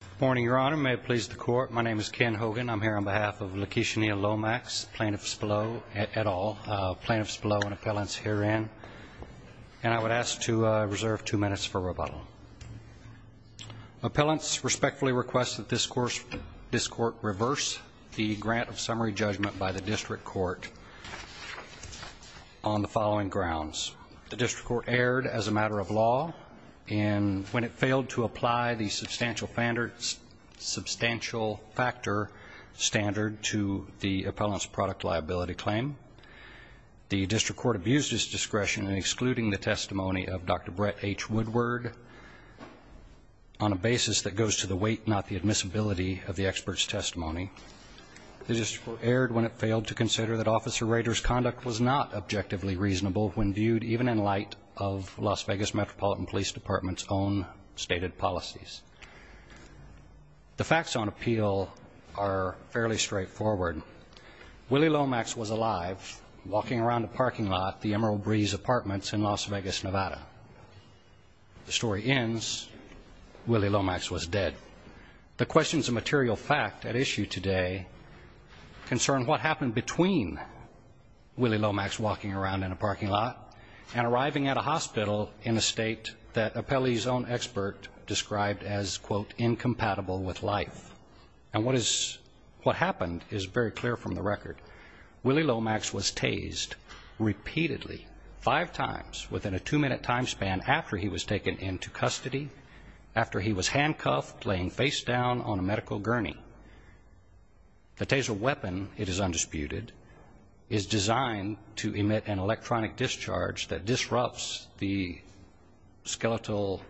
Good morning, Your Honor. May it please the Court, my name is Ken Hogan. I'm here on behalf of LaKisha Neal-Lomax, plaintiffs below at all, plaintiffs below and appellants herein, and I would ask to reserve two minutes for rebuttal. Appellants respectfully request that this Court reverse the grant of summary judgment by the District Court on the following grounds. The District Court erred as a matter of law when it failed to apply the substantial factor standard to the appellant's product liability claim. The District Court abused its discretion in excluding the testimony of Dr. Brett H. Woodward on a basis that goes to the weight, not the admissibility, of the expert's testimony. The District Court erred when it failed to consider that Officer Rader's conduct was not objectively reasonable when viewed even in light of Las Vegas Metropolitan Police Department's own stated policies. The facts on appeal are fairly straightforward. Willie Lomax was alive, walking around a parking lot at the Emerald Breeze Apartments in Las Vegas, Nevada. The story ends, Willie Lomax was dead. The questions of material fact at issue today concern what happened between Willie Lomax walking around in a parking lot and arriving at a hospital in a state that appellee's own expert described as, quote, incompatible with life. And what is, what happened is very clear from the record. Willie Lomax was tased repeatedly, five times within a two-minute time span after he was taken into custody, after he was handcuffed, laying face down on a medical gurney. The taser weapon, it is undisputed, is designed to emit an electronic discharge that disrupts the skeletal,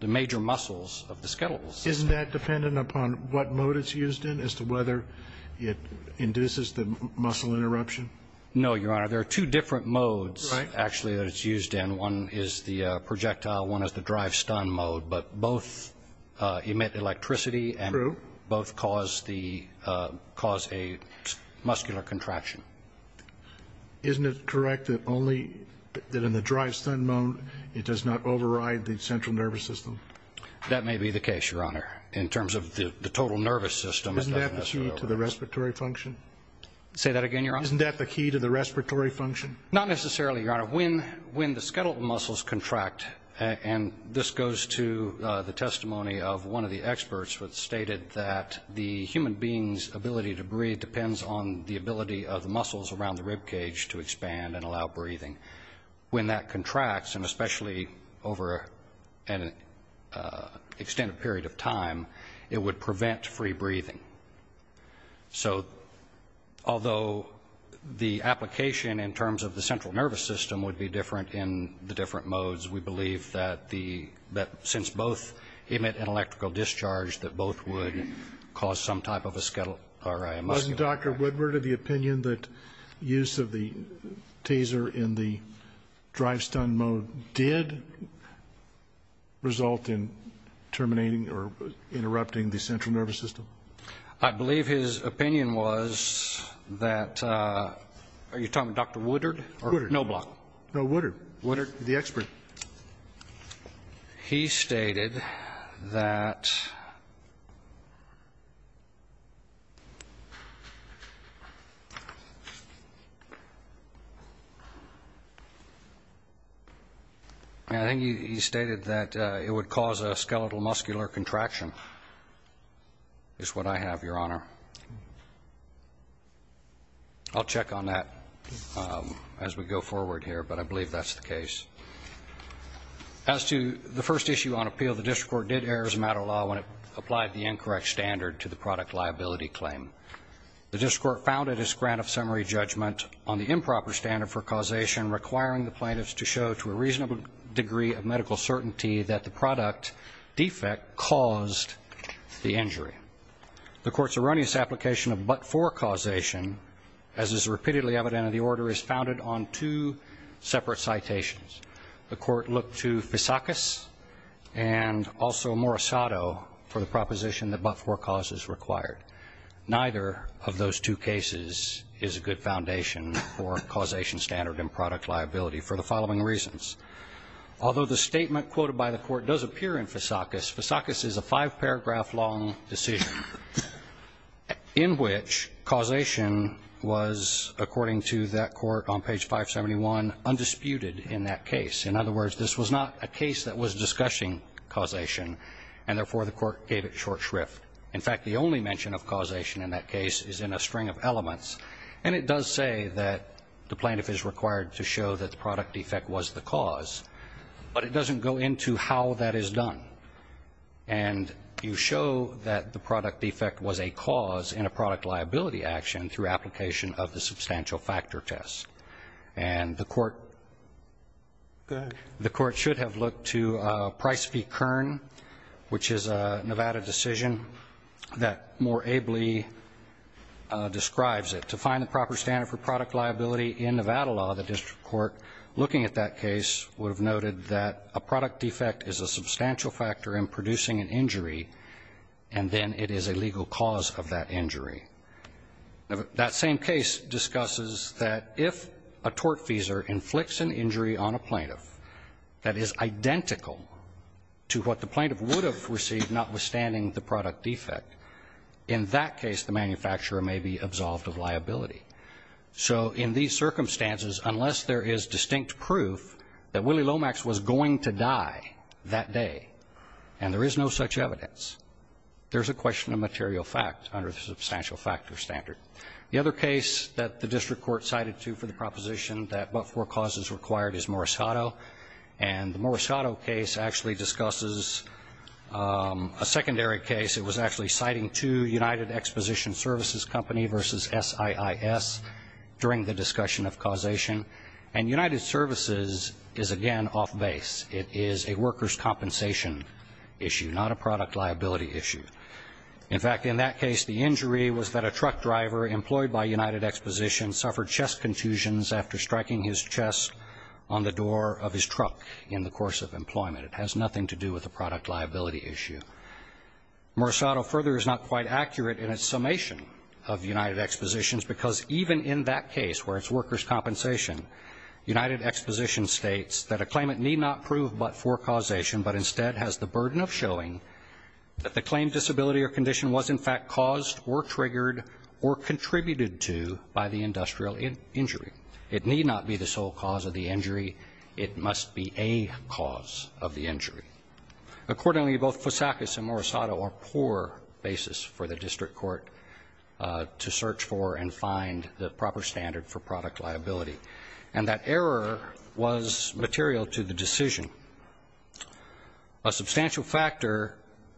the major muscles of the skeletal system. Isn't that dependent upon what mode it's used in as to whether it induces the muscle interruption? No, Your Honor. There are two different modes, actually, that it's used in. One is the projectile, one is the drive-stun mode, but both emit electricity and both cause the, cause a muscular contraction. Isn't it correct that only, that in the drive-stun mode, it does not override the central nervous system? That may be the case, Your Honor, in terms of the total nervous system. Isn't that the key to the respiratory function? Say that again, Your Honor? Isn't that the key to the respiratory function? Not necessarily, Your Honor. When, when the skeletal muscles contract, and this goes to the testimony of one of the experts that stated that the human being's ability to breathe depends on the ability of the muscles around the ribcage to expand and allow breathing. When that contracts, and especially over an extended period of time, it would prevent free breathing. So, although the application in terms of the central nervous system would be different in the different modes, we believe that the, that since both emit an electrical discharge, that both would cause some type of a skeletal, or a muscular contraction. Is Dr. Woodward of the opinion that use of the taser in the drive-stun mode did result in terminating or interrupting the central nervous system? I believe his opinion was that, are you talking about Dr. Woodard? Woodard. Noblock. No, Woodard. Woodard. The expert. He stated that, I think he stated that it would cause a skeletal muscular contraction, is what I have, Your Honor. I'll check on that as we go forward here, but I believe that's the case. As to the first issue on appeal, the district court did err as a matter of law when it applied the incorrect standard to the product liability claim. The district court founded its grant of summary judgment on the improper standard for causation, requiring the plaintiffs to show to a reasonable degree of medical certainty that the product defect caused the injury. The court's erroneous application of but-for causation, as is repeatedly evident in the order, is founded on two separate citations. The court looked to Fisakis and also Morisato for the proposition that but-for cause is required. Neither of those two cases is a good foundation for causation standard and product liability for the following reasons. Although the statement quoted by the court does appear in Fisakis, Fisakis is a five-paragraph long decision in which causation was, according to that court on page 571, undisputed in that case. In other words, this was not a case that was discussing causation, and therefore the court gave it short shrift. In fact, the only mention of causation in that case is in a string of elements. And it does say that the plaintiff is required to show that the product defect was the cause, but it doesn't go into how that is done. And you show that the product defect was a cause in a product liability action through application of the substantial factor test. And the court should have looked to Price v. Kern, which is a Nevada decision that more ably describes it. To find the proper standard for product liability in Nevada law, the district court looking at that case would have noted that a product defect is a substantial factor in producing an injury, and then it is a legal cause of that injury. That same case discusses that if a tortfeasor inflicts an injury on a plaintiff that is identical to what the plaintiff would have received, notwithstanding the product defect, in that case the manufacturer may be absolved of liability. So in these circumstances, unless there is distinct proof that Willie Lomax was going to die that day, and there is no such evidence, there's a question of material fact under the substantial factor standard. The other case that the district court cited, too, for the proposition that but-for cause is required is Morisado. And the Morisado case actually discusses a secondary case. It was actually citing two United Exposition Services Company v. SIIS during the discussion of causation. And United Services is, again, off base. It is a workers' compensation issue, not a product liability issue. In fact, in that case, the injury was that a truck driver employed by United Exposition suffered chest confusions after striking his chest on the door of his truck in the course of employment. It has nothing to do with a product liability issue. Morisado further is not quite accurate in its summation of United Expositions, because even in that case, where it's workers' compensation, United Exposition states that a claimant need not prove but-for causation, but instead has the burden of showing that the claimed disability or condition was in fact caused or triggered or contributed to by the industrial injury. It need not be the sole cause of the injury. It must be a cause of the injury. Accordingly, both Fusakis and Morisado are poor basis for the district court to search for and find the proper standard for product liability. And that error was material to the decision. A substantial factor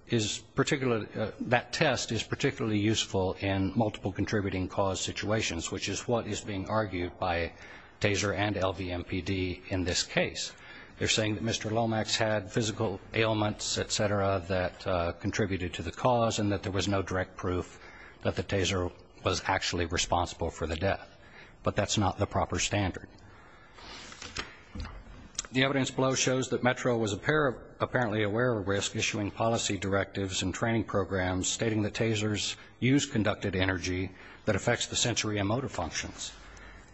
is particularly that test is particularly useful in multiple contributing cause situations, which is what is being argued by TASER and LVMPD in this case. They're saying that Mr. Lomax had physical ailments, et cetera, that contributed to the cause and that there was no direct proof that the TASER was actually responsible for the death. But that's not the proper standard. The evidence below shows that Metro was apparently aware of risk issuing policy directives and training programs stating that TASERs use conducted energy that affects the sensory and motor functions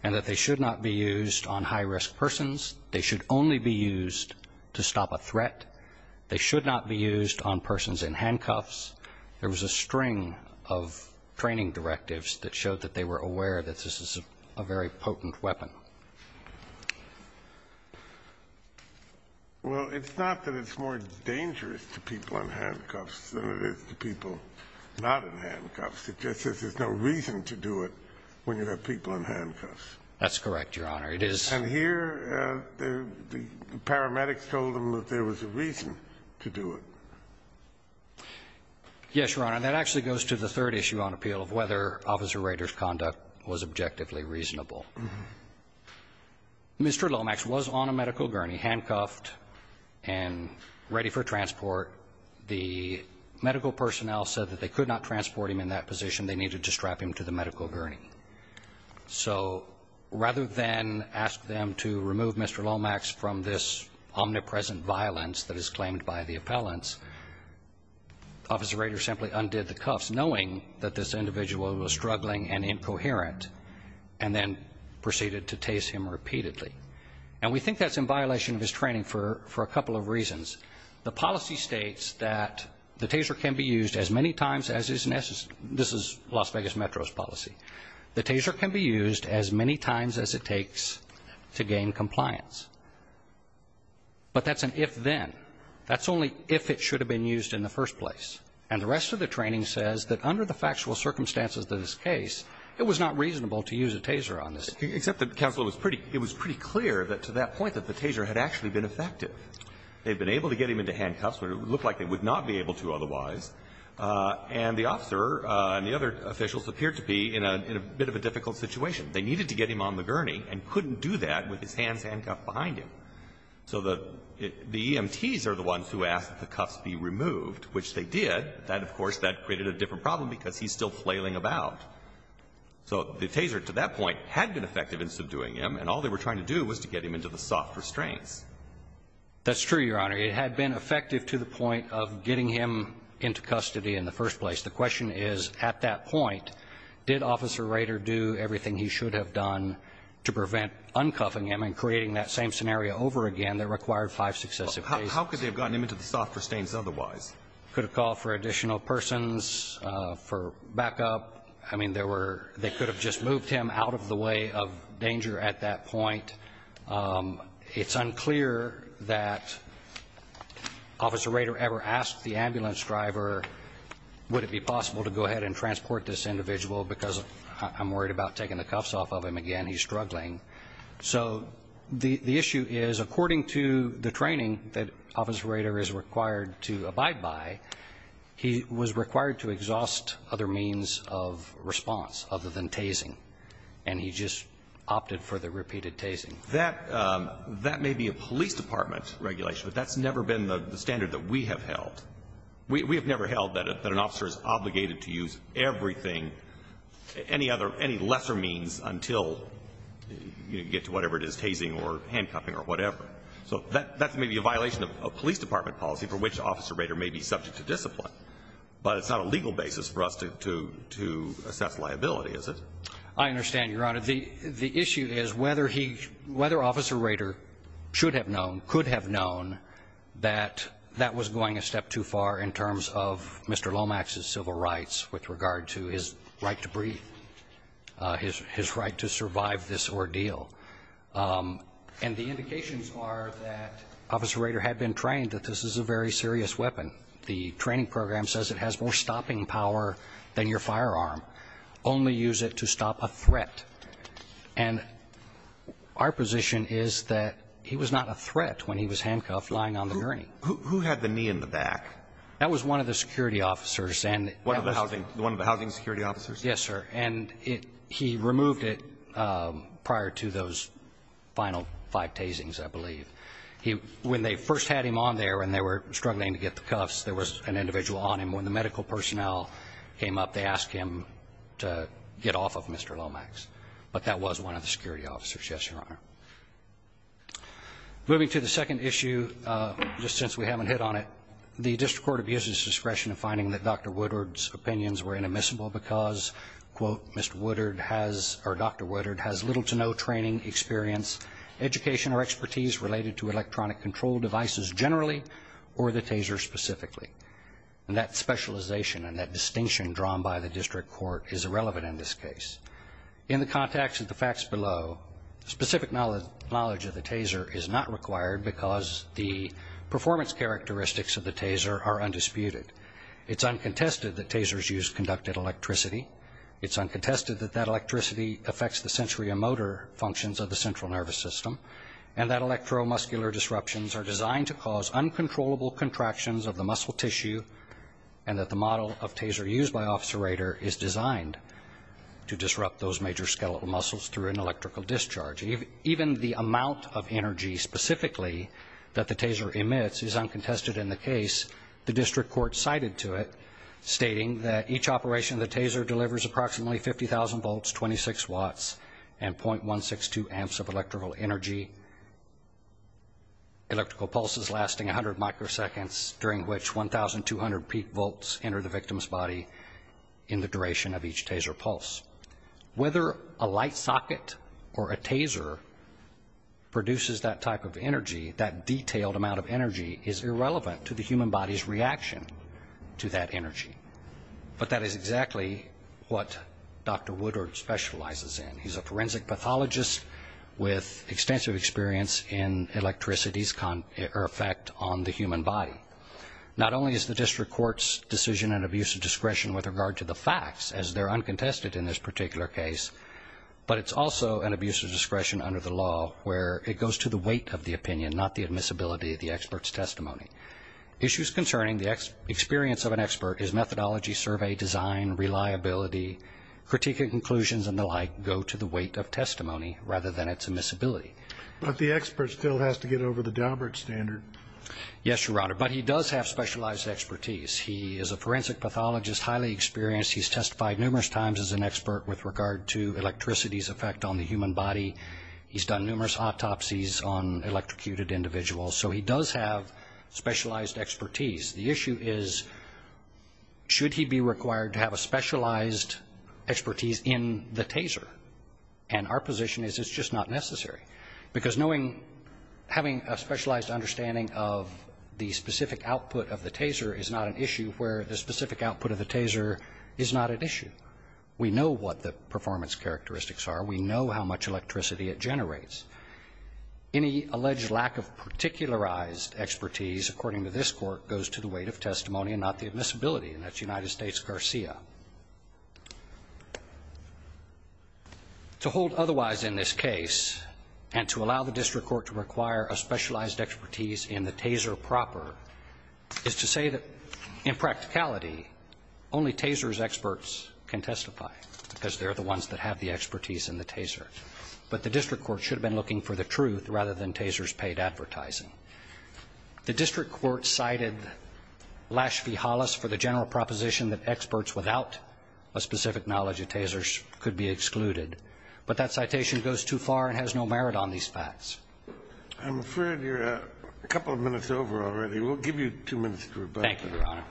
and that they should not be used on high-risk persons. They should only be used to stop a threat. They should not be used on persons in handcuffs. There was a string of training directives that showed that they were aware that this is a very potent weapon. Well, it's not that it's more dangerous to people in handcuffs than it is to people not in handcuffs. It just says there's no reason to do it when you have people in handcuffs. That's correct, Your Honor. It is. And here the paramedics told them that there was a reason to do it. Yes, Your Honor. That actually goes to the third issue on appeal of whether Officer Rader's conduct was objectively reasonable. Mr. Lomax was on a medical gurney, handcuffed and ready for transport. The medical personnel said that they could not transport him in that position. They needed to strap him to the medical gurney. So rather than ask them to remove Mr. Lomax from this omnipresent violence that is claimed by the appellants, Officer Rader simply undid the cuffs knowing that this individual was struggling and incoherent and then proceeded to TASE him repeatedly. And we think that's in violation of his training for a couple of reasons. The policy states that the TASER can be used as many times as is necessary. This is Las Vegas Metro's policy. The TASER can be used as many times as it takes to gain compliance. But that's an if-then. That's only if it should have been used in the first place. And the rest of the training says that under the factual circumstances of this case, it was not reasonable to use a TASER on this. Except that counsel, it was pretty clear to that point that the TASER had actually been effective. They had been able to get him into handcuffs when it looked like they would not be able to otherwise. And the officer and the other officials appeared to be in a bit of a difficult situation. They needed to get him on the gurney and couldn't do that with his hands handcuffed behind him. So the EMTs are the ones who asked that the cuffs be removed, which they did. That, of course, that created a different problem because he's still flailing about. So the TASER to that point had been effective in subduing him, and all they were trying to do was to get him into the soft restraints. That's true, Your Honor. It had been effective to the point of getting him into custody in the first place. The question is, at that point, did Officer Rader do everything he should have done to prevent uncuffing him and creating that same scenario over again that required five successive cases? How could they have gotten him into the soft restraints otherwise? Could have called for additional persons, for backup. I mean, they could have just moved him out of the way of danger at that point. It's unclear that Officer Rader ever asked the ambulance driver, would it be possible to go ahead and transport this individual because I'm worried about taking the cuffs off of him again. He's struggling. So the issue is, according to the training that Officer Rader is required to abide by, he was required to exhaust other means of response other than tasing, and he just opted for the repeated tasing. That may be a police department regulation, but that's never been the standard that we have held. We have never held that an officer is obligated to use everything, any other, any lesser means until you get to whatever it is, tasing or handcuffing or whatever. So that may be a violation of police department policy for which Officer Rader may be subject to discipline, but it's not a legal basis for us to assess liability, is it? I understand, Your Honor. The issue is whether he, whether Officer Rader should have known, could have known that that was going a step too far in terms of Mr. Lomax's civil rights with regard to his right to breathe, his right to survive this ordeal. And the indications are that Officer Rader had been trained that this is a very serious weapon. The training program says it has more stopping power than your firearm. Only use it to stop a threat. And our position is that he was not a threat when he was handcuffed lying on the gurney. Who had the knee in the back? That was one of the security officers. One of the housing security officers? Yes, sir. And he removed it prior to those final five tasings, I believe. When they first had him on there and they were struggling to get the cuffs, there was an individual on him. When the medical personnel came up, they asked him to get off of Mr. Lomax. But that was one of the security officers. Yes, Your Honor. Moving to the second issue, just since we haven't hit on it. The district court abuses discretion in finding that Dr. Woodward's opinions were inadmissible because, quote, Dr. Woodward has little to no training, experience, education or expertise related to electronic control devices generally or the taser specifically. And that specialization and that distinction drawn by the district court is irrelevant in this case. In the context of the facts below, specific knowledge of the taser is not required because the performance characteristics of the taser are undisputed. It's uncontested that tasers use conducted electricity. It's uncontested that that electricity affects the sensory and motor functions of the central nervous system and that electromuscular disruptions are designed to cause uncontrollable contractions of the muscle tissue and that the model of taser used by Officer Rader is designed to disrupt those major skeletal muscles through an electrical discharge. Even the amount of energy specifically that the taser emits is uncontested in the case. The district court cited to it stating that each operation of the taser delivers approximately 50,000 volts, 26 watts and .162 amps of electrical energy. Electrical pulses lasting 100 microseconds during which 1,200 peak volts enter the victim's body in the duration of each taser pulse. Whether a light socket or a taser produces that type of energy, that detailed amount of energy is irrelevant to the human body's reaction to that energy. But that is exactly what Dr. Woodard specializes in. He's a forensic pathologist with extensive experience in electricity's effect on the human body. Not only is the district court's decision an abuse of discretion with regard to the facts as they're uncontested in this particular case, but it's also an abuse of discretion under the law where it goes to the weight of the opinion, not the admissibility of the expert's testimony. Issues concerning the experience of an expert is methodology, survey, design, reliability, critique of conclusions and the like go to the weight of testimony rather than its admissibility. But the expert still has to get over the Daubert standard. Yes, Your Honor. But he does have specialized expertise. He is a forensic pathologist, highly experienced. He's testified numerous times as an expert with regard to electricity's effect on the human body. He's done numerous autopsies on electrocuted individuals. So he does have specialized expertise. The issue is, should he be required to have a specialized expertise in the TASER? And our position is it's just not necessary, because knowing, having a specialized understanding of the specific output of the TASER is not an issue where the specific output of the TASER is not at issue. We know what the performance characteristics are. We know how much electricity it generates. Any alleged lack of particularized expertise, according to this Court, goes to the weight of testimony and not the admissibility, and that's United States Garcia. To hold otherwise in this case and to allow the district court to require a specialized expertise in the TASER proper is to say that, in practicality, only TASER's experts can testify, because they're the ones that have the expertise in the TASER. But the district court should have been looking for the truth rather than TASER's paid advertising. The district court cited Lash v. Hollis for the general proposition that experts without a specific knowledge of TASER could be excluded. But that citation goes too far and has no merit on these facts. I'm afraid you're a couple of minutes over already. Thank you, Your Honor.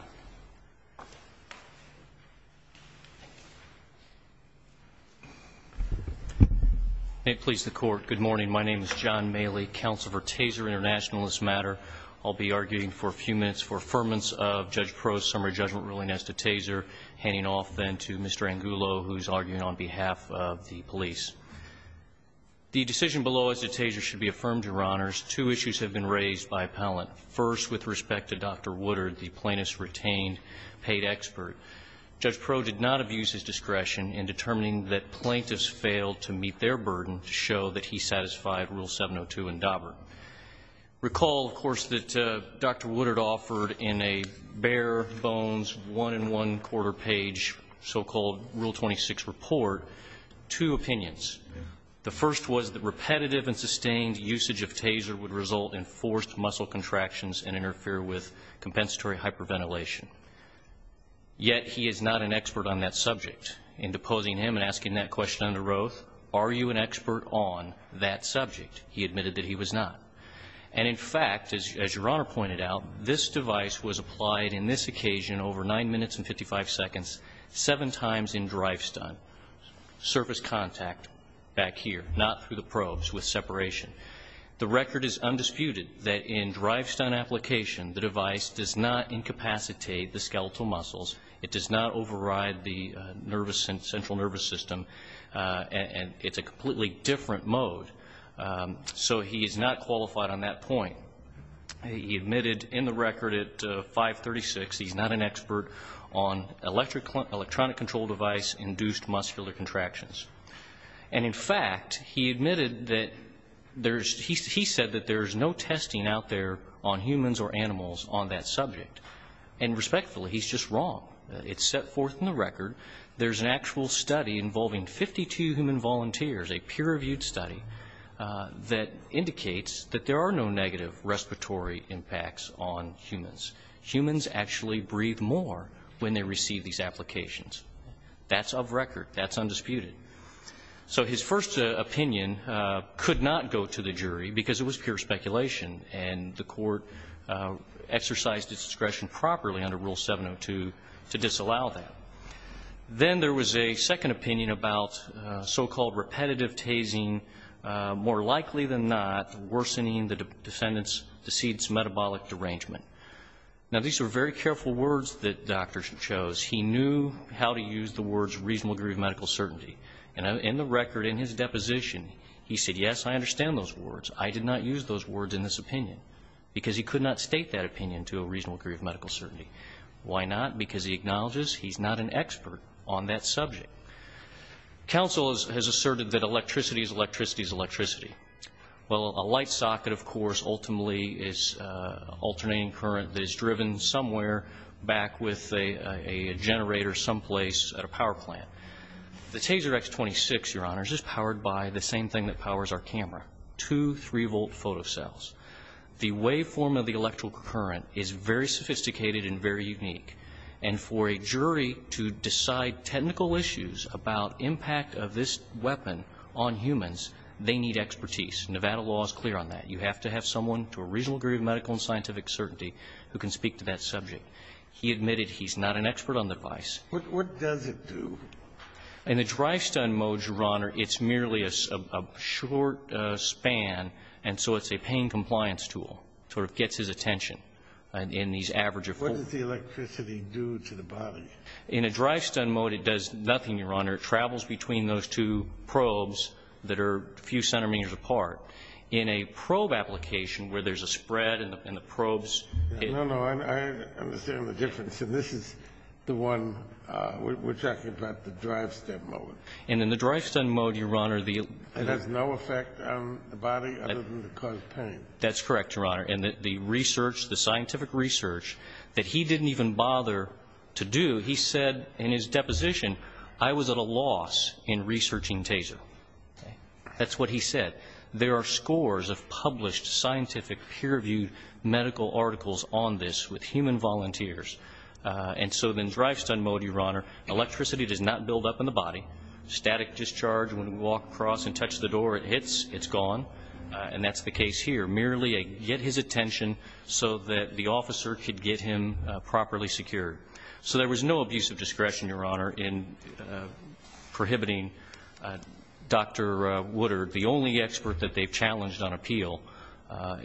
May it please the Court, good morning. My name is John Maley, Counsel for TASER Internationalist Matter. I'll be arguing for a few minutes for affirmance of Judge Pro's summary judgment ruling as to TASER, handing off then to Mr. Angulo, who's arguing on behalf of the police. The decision below as to TASER should be affirmed, Your Honors. Two issues have been raised by appellant. First, with respect to Dr. Woodard, the plaintiff's retained paid expert. Judge Pro did not abuse his discretion in determining that plaintiffs failed to meet their burden to show that he satisfied Rule 702 in Daubert. Recall, of course, that Dr. Woodard offered in a bare-bones, one-and-one-quarter page, so-called Rule 26 report, two opinions. The first was that repetitive and sustained usage of TASER would result in forced muscle contractions and interfere with compensatory hyperventilation. Yet he is not an expert on that subject. In deposing him and asking that question under oath, are you an expert on that subject? He admitted that he was not. And, in fact, as Your Honor pointed out, this device was applied in this occasion over 9 minutes and 55 seconds, seven times in drive-stunt, surface contact back here, not through the probes, with separation. The record is undisputed that in drive-stunt application, the device does not incapacitate the skeletal muscles. It does not override the central nervous system. And it's a completely different mode. So he is not qualified on that point. He admitted in the record at 536 he's not an expert on electronic control device induced muscular contractions. And, in fact, he admitted that there's he said that there's no testing out there on humans or animals on that subject. And, respectfully, he's just wrong. It's set forth in the record. There's an actual study involving 52 human volunteers, a peer-reviewed study, that indicates that there are no negative respiratory impacts on humans. Humans actually breathe more when they receive these applications. That's of record. That's undisputed. So his first opinion could not go to the jury because it was pure speculation, and the court exercised its discretion properly under Rule 702 to disallow that. Then there was a second opinion about so-called repetitive tasing, more likely than not, worsening the defendant's deceit's metabolic derangement. Now, these were very careful words that the doctor chose. He knew how to use the words reasonable degree of medical certainty, and in the record in his deposition he said, yes, I understand those words. I did not use those words in this opinion because he could not state that opinion to a reasonable degree of medical certainty. Why not? Because he acknowledges he's not an expert on that subject. Counsel has asserted that electricity is electricity is electricity. Well, a light socket, of course, ultimately is alternating current that is driven somewhere back with a generator someplace at a power plant. The Taser X26, Your Honors, is powered by the same thing that powers our camera, two 3-volt photocells. The waveform of the electrical current is very sophisticated and very unique, and for a jury to decide technical issues about impact of this weapon on humans, they need expertise. Nevada law is clear on that. You have to have someone to a reasonable degree of medical and scientific certainty who can speak to that subject. He admitted he's not an expert on the device. What does it do? In the drive-stun mode, Your Honor, it's merely a short span, and so it's a pain compliance tool. It sort of gets his attention in these average of four. What does the electricity do to the body? In a drive-stun mode, it does nothing, Your Honor. It travels between those two probes that are a few centimeters apart. In a probe application where there's a spread and the probes ---- No, no. I understand the difference, and this is the one we're talking about, the drive-stun mode. And in the drive-stun mode, Your Honor, the ---- It has no effect on the body other than to cause pain. That's correct, Your Honor. And the research, the scientific research that he didn't even bother to do, he said in his deposition, I was at a loss in researching Taser. That's what he said. There are scores of published scientific peer-reviewed medical articles on this with human volunteers. And so in drive-stun mode, Your Honor, electricity does not build up in the body. Static discharge, when we walk across and touch the door, it hits, it's gone. And that's the case here. Merely a get his attention so that the officer could get him properly secured. So there was no abuse of discretion, Your Honor, in prohibiting Dr. Woodard, the only expert that they've challenged on appeal.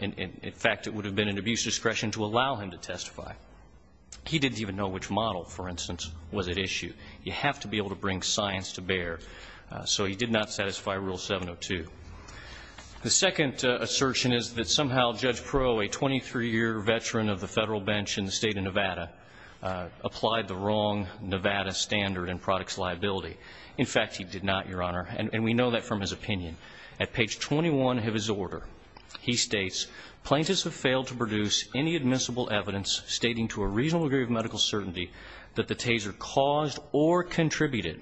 In fact, it would have been an abuse of discretion to allow him to testify. He didn't even know which model, for instance, was at issue. You have to be able to bring science to bear. So he did not satisfy Rule 702. The second assertion is that somehow Judge Proulx, a 23-year veteran of the Federal bench in the State of Nevada, applied the wrong Nevada standard in products liability. In fact, he did not, Your Honor. And we know that from his opinion. At page 21 of his order, he states, Plaintiffs have failed to produce any admissible evidence stating to a reasonable degree of medical certainty that the taser caused or contributed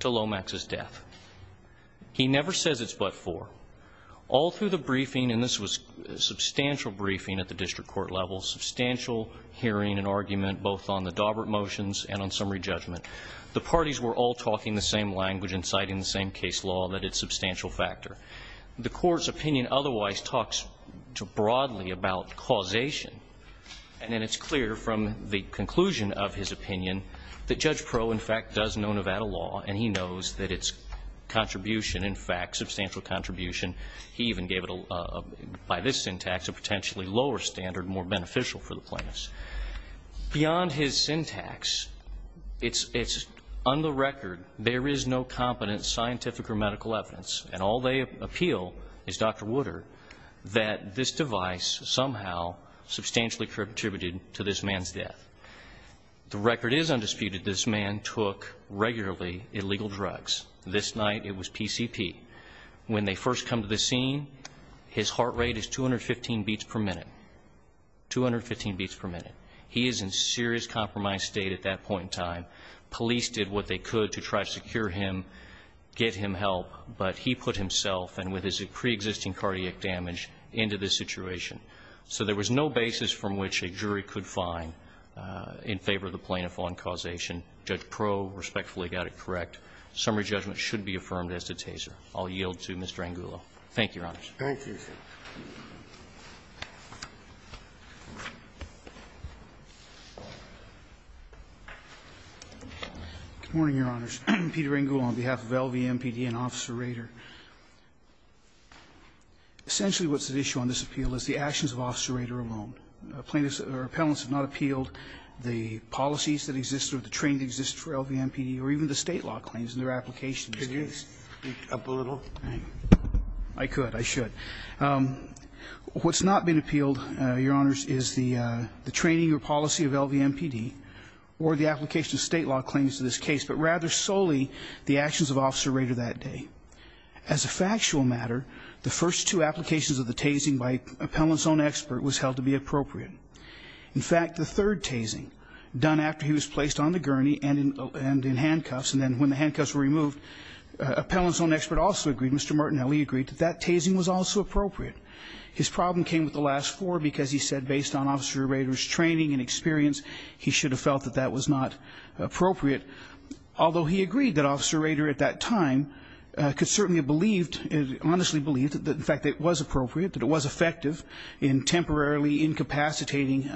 to Lomax's death. He never says it's but for. All through the briefing, and this was a substantial briefing at the district court level, substantial hearing and argument both on the Dawbert motions and on summary judgment. The parties were all talking the same language and citing the same case law, that it's substantial factor. The Court's opinion otherwise talks broadly about causation. And then it's clear from the conclusion of his opinion that Judge Proulx, in fact, does know Nevada law, and he knows that its contribution, in fact, substantial contribution. He even gave it, by this syntax, a potentially lower standard, more beneficial for the plaintiffs. Beyond his syntax, it's on the record, there is no competent scientific or medical evidence, and all they appeal is Dr. Woodard, that this device somehow substantially contributed to this man's death. The record is undisputed. This man took regularly illegal drugs. This night it was PCP. When they first come to the scene, his heart rate is 215 beats per minute. 215 beats per minute. He is in serious compromised state at that point in time. Police did what they could to try to secure him, get him help, but he put himself and with his preexisting cardiac damage into this situation. So there was no basis from which a jury could find in favor of the plaintiff on causation. Judge Proulx respectfully got it correct. Summary judgment should be affirmed as the taser. I'll yield to Mr. Angulo. Thank you, Your Honors. Thank you. Good morning, Your Honors. Peter Angulo on behalf of LVMPD and Officer Rader. Essentially what's at issue on this appeal is the actions of Officer Rader alone. Plaintiffs or appellants have not appealed the policies that exist or the training that exists for LVMPD or even the State law claims in their application in this case. Could you speak up a little? I could. I should. What's not been appealed, Your Honors, is the training or policy of LVMPD or the application of State law claims in this case, but rather solely the actions of Officer Rader that day. As a factual matter, the first two applications of the tasing by an appellant's own expert was held to be appropriate. In fact, the third tasing done after he was placed on the gurney and in handcuffs and then when the handcuffs were removed, an appellant's own expert also agreed, Mr. Martinelli agreed, that that tasing was also appropriate. His problem came with the last four because he said based on Officer Rader's training and experience, he should have felt that that was not appropriate, although he agreed that Officer Rader at that time could certainly have believed, honestly believed, that in fact it was appropriate, that it was effective in temporarily incapacitating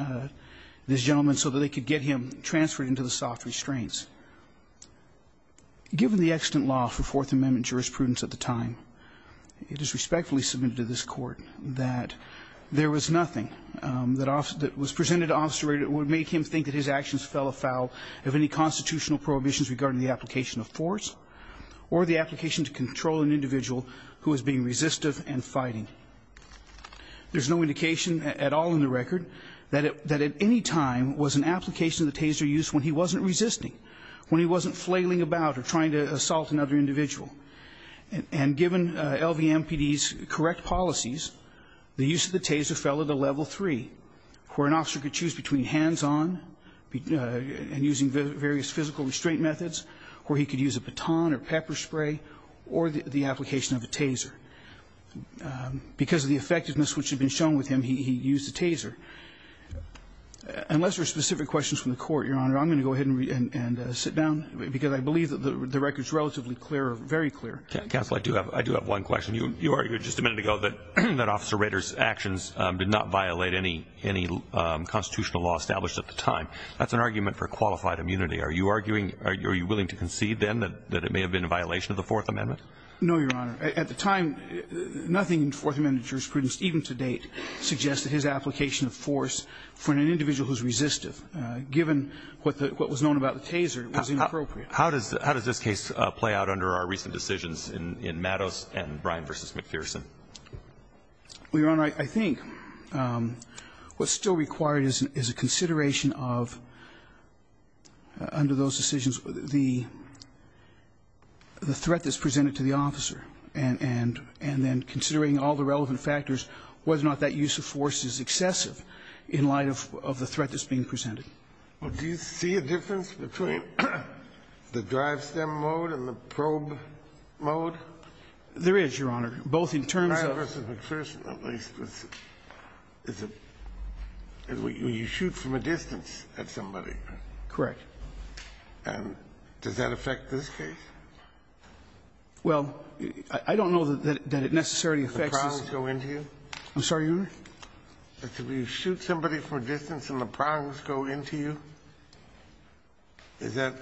this gentleman so that they could get him transferred into the soft restraints. Given the extant law for Fourth Amendment jurisprudence at the time, it is respectfully submitted to this Court that there was nothing that was presented to Officer Rader that would make him think that his actions fell afoul of any constitutional prohibitions regarding the application of force or the application to control an individual who was being resistive and fighting. There's no indication at all in the record that at any time was an application of the taser used when he wasn't resisting, when he wasn't flailing about or trying to assault another individual. And given LVMPD's correct policies, the use of the taser fell at a level three, where an officer could choose between hands-on and using various physical restraint methods, where he could use a baton or pepper spray, or the application of a taser. Because of the effectiveness which had been shown with him, he used the taser. Unless there are specific questions from the Court, Your Honor, I'm going to go ahead and sit down, because I believe that the record is relatively clear, very clear. Counsel, I do have one question. You argued just a minute ago that Officer Rader's actions did not violate any constitutional law established at the time. That's an argument for qualified immunity. Are you arguing or are you willing to concede then that it may have been a violation of the Fourth Amendment? No, Your Honor. At the time, nothing in Fourth Amendment jurisprudence, even to date, suggests his application of force for an individual who's resistive. Given what was known about the taser, it was inappropriate. How does this case play out under our recent decisions in Mattos and Bryan v. McPherson? Well, Your Honor, I think what's still required is a consideration of, under those decisions, the threat that's presented to the officer. And then considering all the relevant factors, whether or not that use of force is excessive in light of the threat that's being presented. Well, do you see a difference between the drive stem mode and the probe mode? There is, Your Honor, both in terms of the drive stem mode and the probe mode. Bryan v. McPherson, at least, is when you shoot from a distance at somebody. Correct. And does that affect this case? Well, I don't know that it necessarily affects this case. The prongs go into you? I'm sorry, Your Honor? If you shoot somebody from a distance and the prongs go into you, is that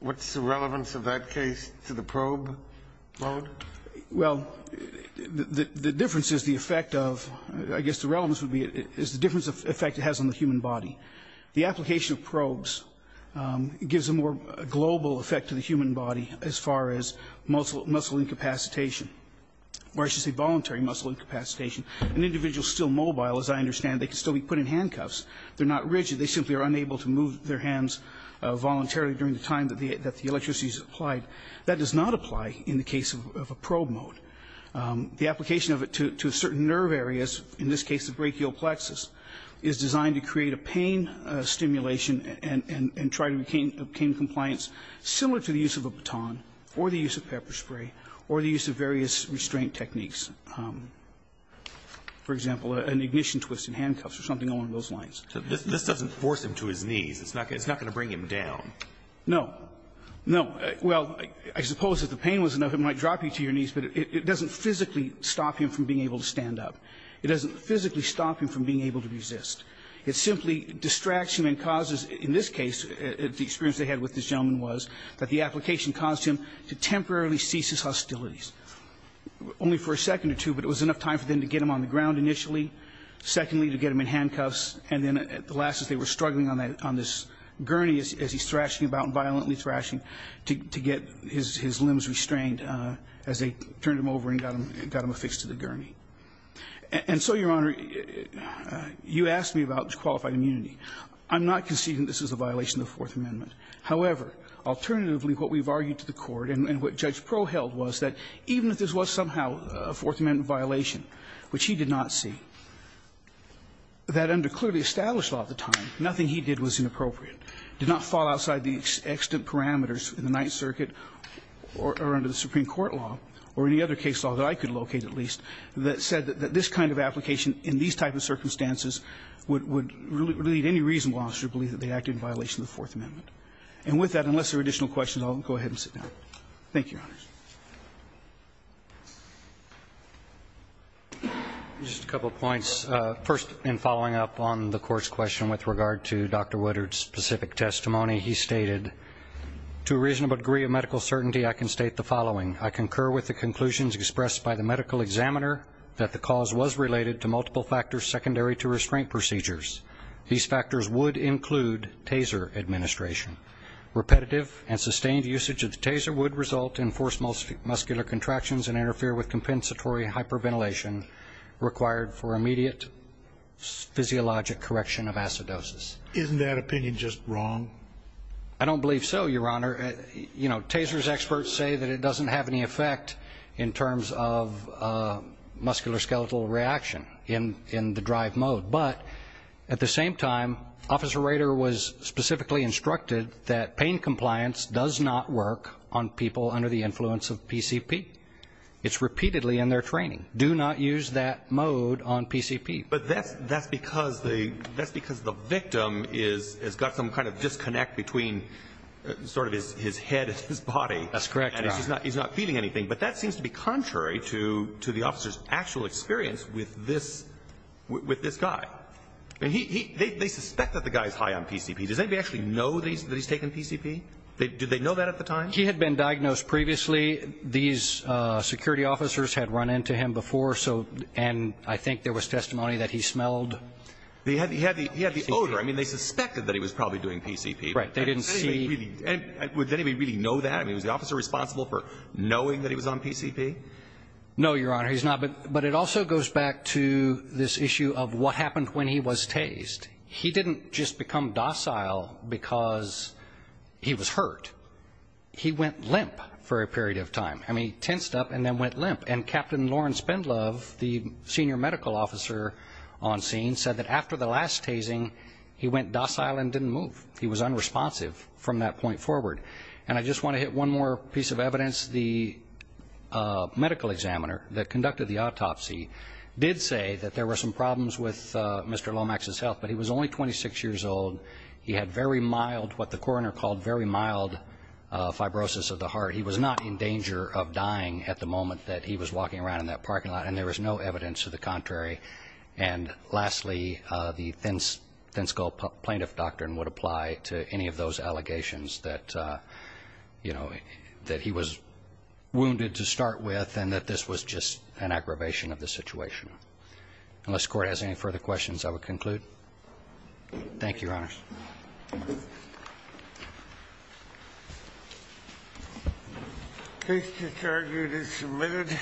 what's the relevance of that case to the probe mode? Well, the difference is the effect of, I guess the relevance would be, is the difference of effect it has on the human body. The application of probes gives a more global effect to the human body as far as muscle incapacitation, or I should say voluntary muscle incapacitation. An individual is still mobile, as I understand. They can still be put in handcuffs. They're not rigid. They simply are unable to move their hands voluntarily during the time that the electricity is applied. That does not apply in the case of a probe mode. The application of it to certain nerve areas, in this case the brachial plexus, is designed to create a pain stimulation and try to obtain compliance similar to the use of a baton or the use of pepper spray or the use of various restraint techniques. For example, an ignition twist in handcuffs or something along those lines. This doesn't force him to his knees. It's not going to bring him down. No. No. Well, I suppose if the pain was enough, it might drop you to your knees, but it doesn't physically stop him from being able to stand up. It doesn't physically stop him from being able to resist. It simply distracts him and causes, in this case, the experience they had with this gentleman was that the application caused him to temporarily cease his hostilities only for a second or two, but it was enough time for them to get him on the ground initially, secondly to get him in handcuffs, and then at the last as they were struggling on this gurney as he's thrashing about and violently thrashing to get his limbs restrained as they turned him over and got him affixed to the gurney. And so, Your Honor, you asked me about qualified immunity. I'm not conceding this is a violation of the Fourth Amendment. However, alternatively, what we've argued to the Court and what Judge Proheld was that even if this was somehow a Fourth Amendment violation, which he did not see, that under clearly established law at the time, nothing he did was inappropriate, did not fall outside the extent parameters in the Ninth Circuit or under the Supreme Court law or any other case law that I could locate, at least, that said that this kind of application in these type of circumstances would lead any reasonable officer to believe that they acted in violation of the Fourth Amendment. And with that, unless there are additional questions, I'll go ahead and sit down. Thank you, Your Honors. Just a couple of points. First, in following up on the Court's question with regard to Dr. Woodard's specific testimony, he stated, to a reasonable degree of medical certainty, I can state the following. I concur with the conclusions expressed by the medical examiner that the cause was related to multiple factors secondary to restraint procedures. These factors would include taser administration. Repetitive and sustained usage of the taser would result in forced muscular contractions and interfere with compensatory hyperventilation required for immediate physiologic correction of acidosis. Isn't that opinion just wrong? I don't believe so, Your Honor. You know, taser's experts say that it doesn't have any effect in terms of muscular skeletal reaction in the drive mode. But at the same time, Officer Rader was specifically instructed that pain compliance does not work on people under the influence of PCP. It's repeatedly in their training. Do not use that mode on PCP. But that's because the victim has got some kind of disconnect between sort of his head and his body. That's correct, Your Honor. And he's not feeling anything. But that seems to be contrary to the officer's actual experience with this guy. They suspect that the guy's high on PCP. Does anybody actually know that he's taken PCP? Did they know that at the time? He had been diagnosed previously. These security officers had run into him before, and I think there was testimony that he smelled. He had the odor. I mean, they suspected that he was probably doing PCP. Right. They didn't see. Would anybody really know that? I mean, was the officer responsible for knowing that he was on PCP? No, Your Honor. He's not. But it also goes back to this issue of what happened when he was tased. He didn't just become docile because he was hurt. He went limp for a period of time. I mean, he tensed up and then went limp. And Captain Lawrence Spendlove, the senior medical officer on scene, said that after the last tasing he went docile and didn't move. He was unresponsive from that point forward. And I just want to hit one more piece of evidence. The medical examiner that conducted the autopsy did say that there were some problems with Mr. Lomax's health, but he was only 26 years old. He had very mild, what the coroner called very mild, fibrosis of the heart. He was not in danger of dying at the moment that he was walking around in that parking lot, and there was no evidence to the contrary. And lastly, the thin-skull plaintiff doctrine would apply to any of those allegations that, you know, that he was wounded to start with and that this was just an aggravation of the situation. Unless the Court has any further questions, I will conclude. Thank you, Your Honors. Case to target is submitted.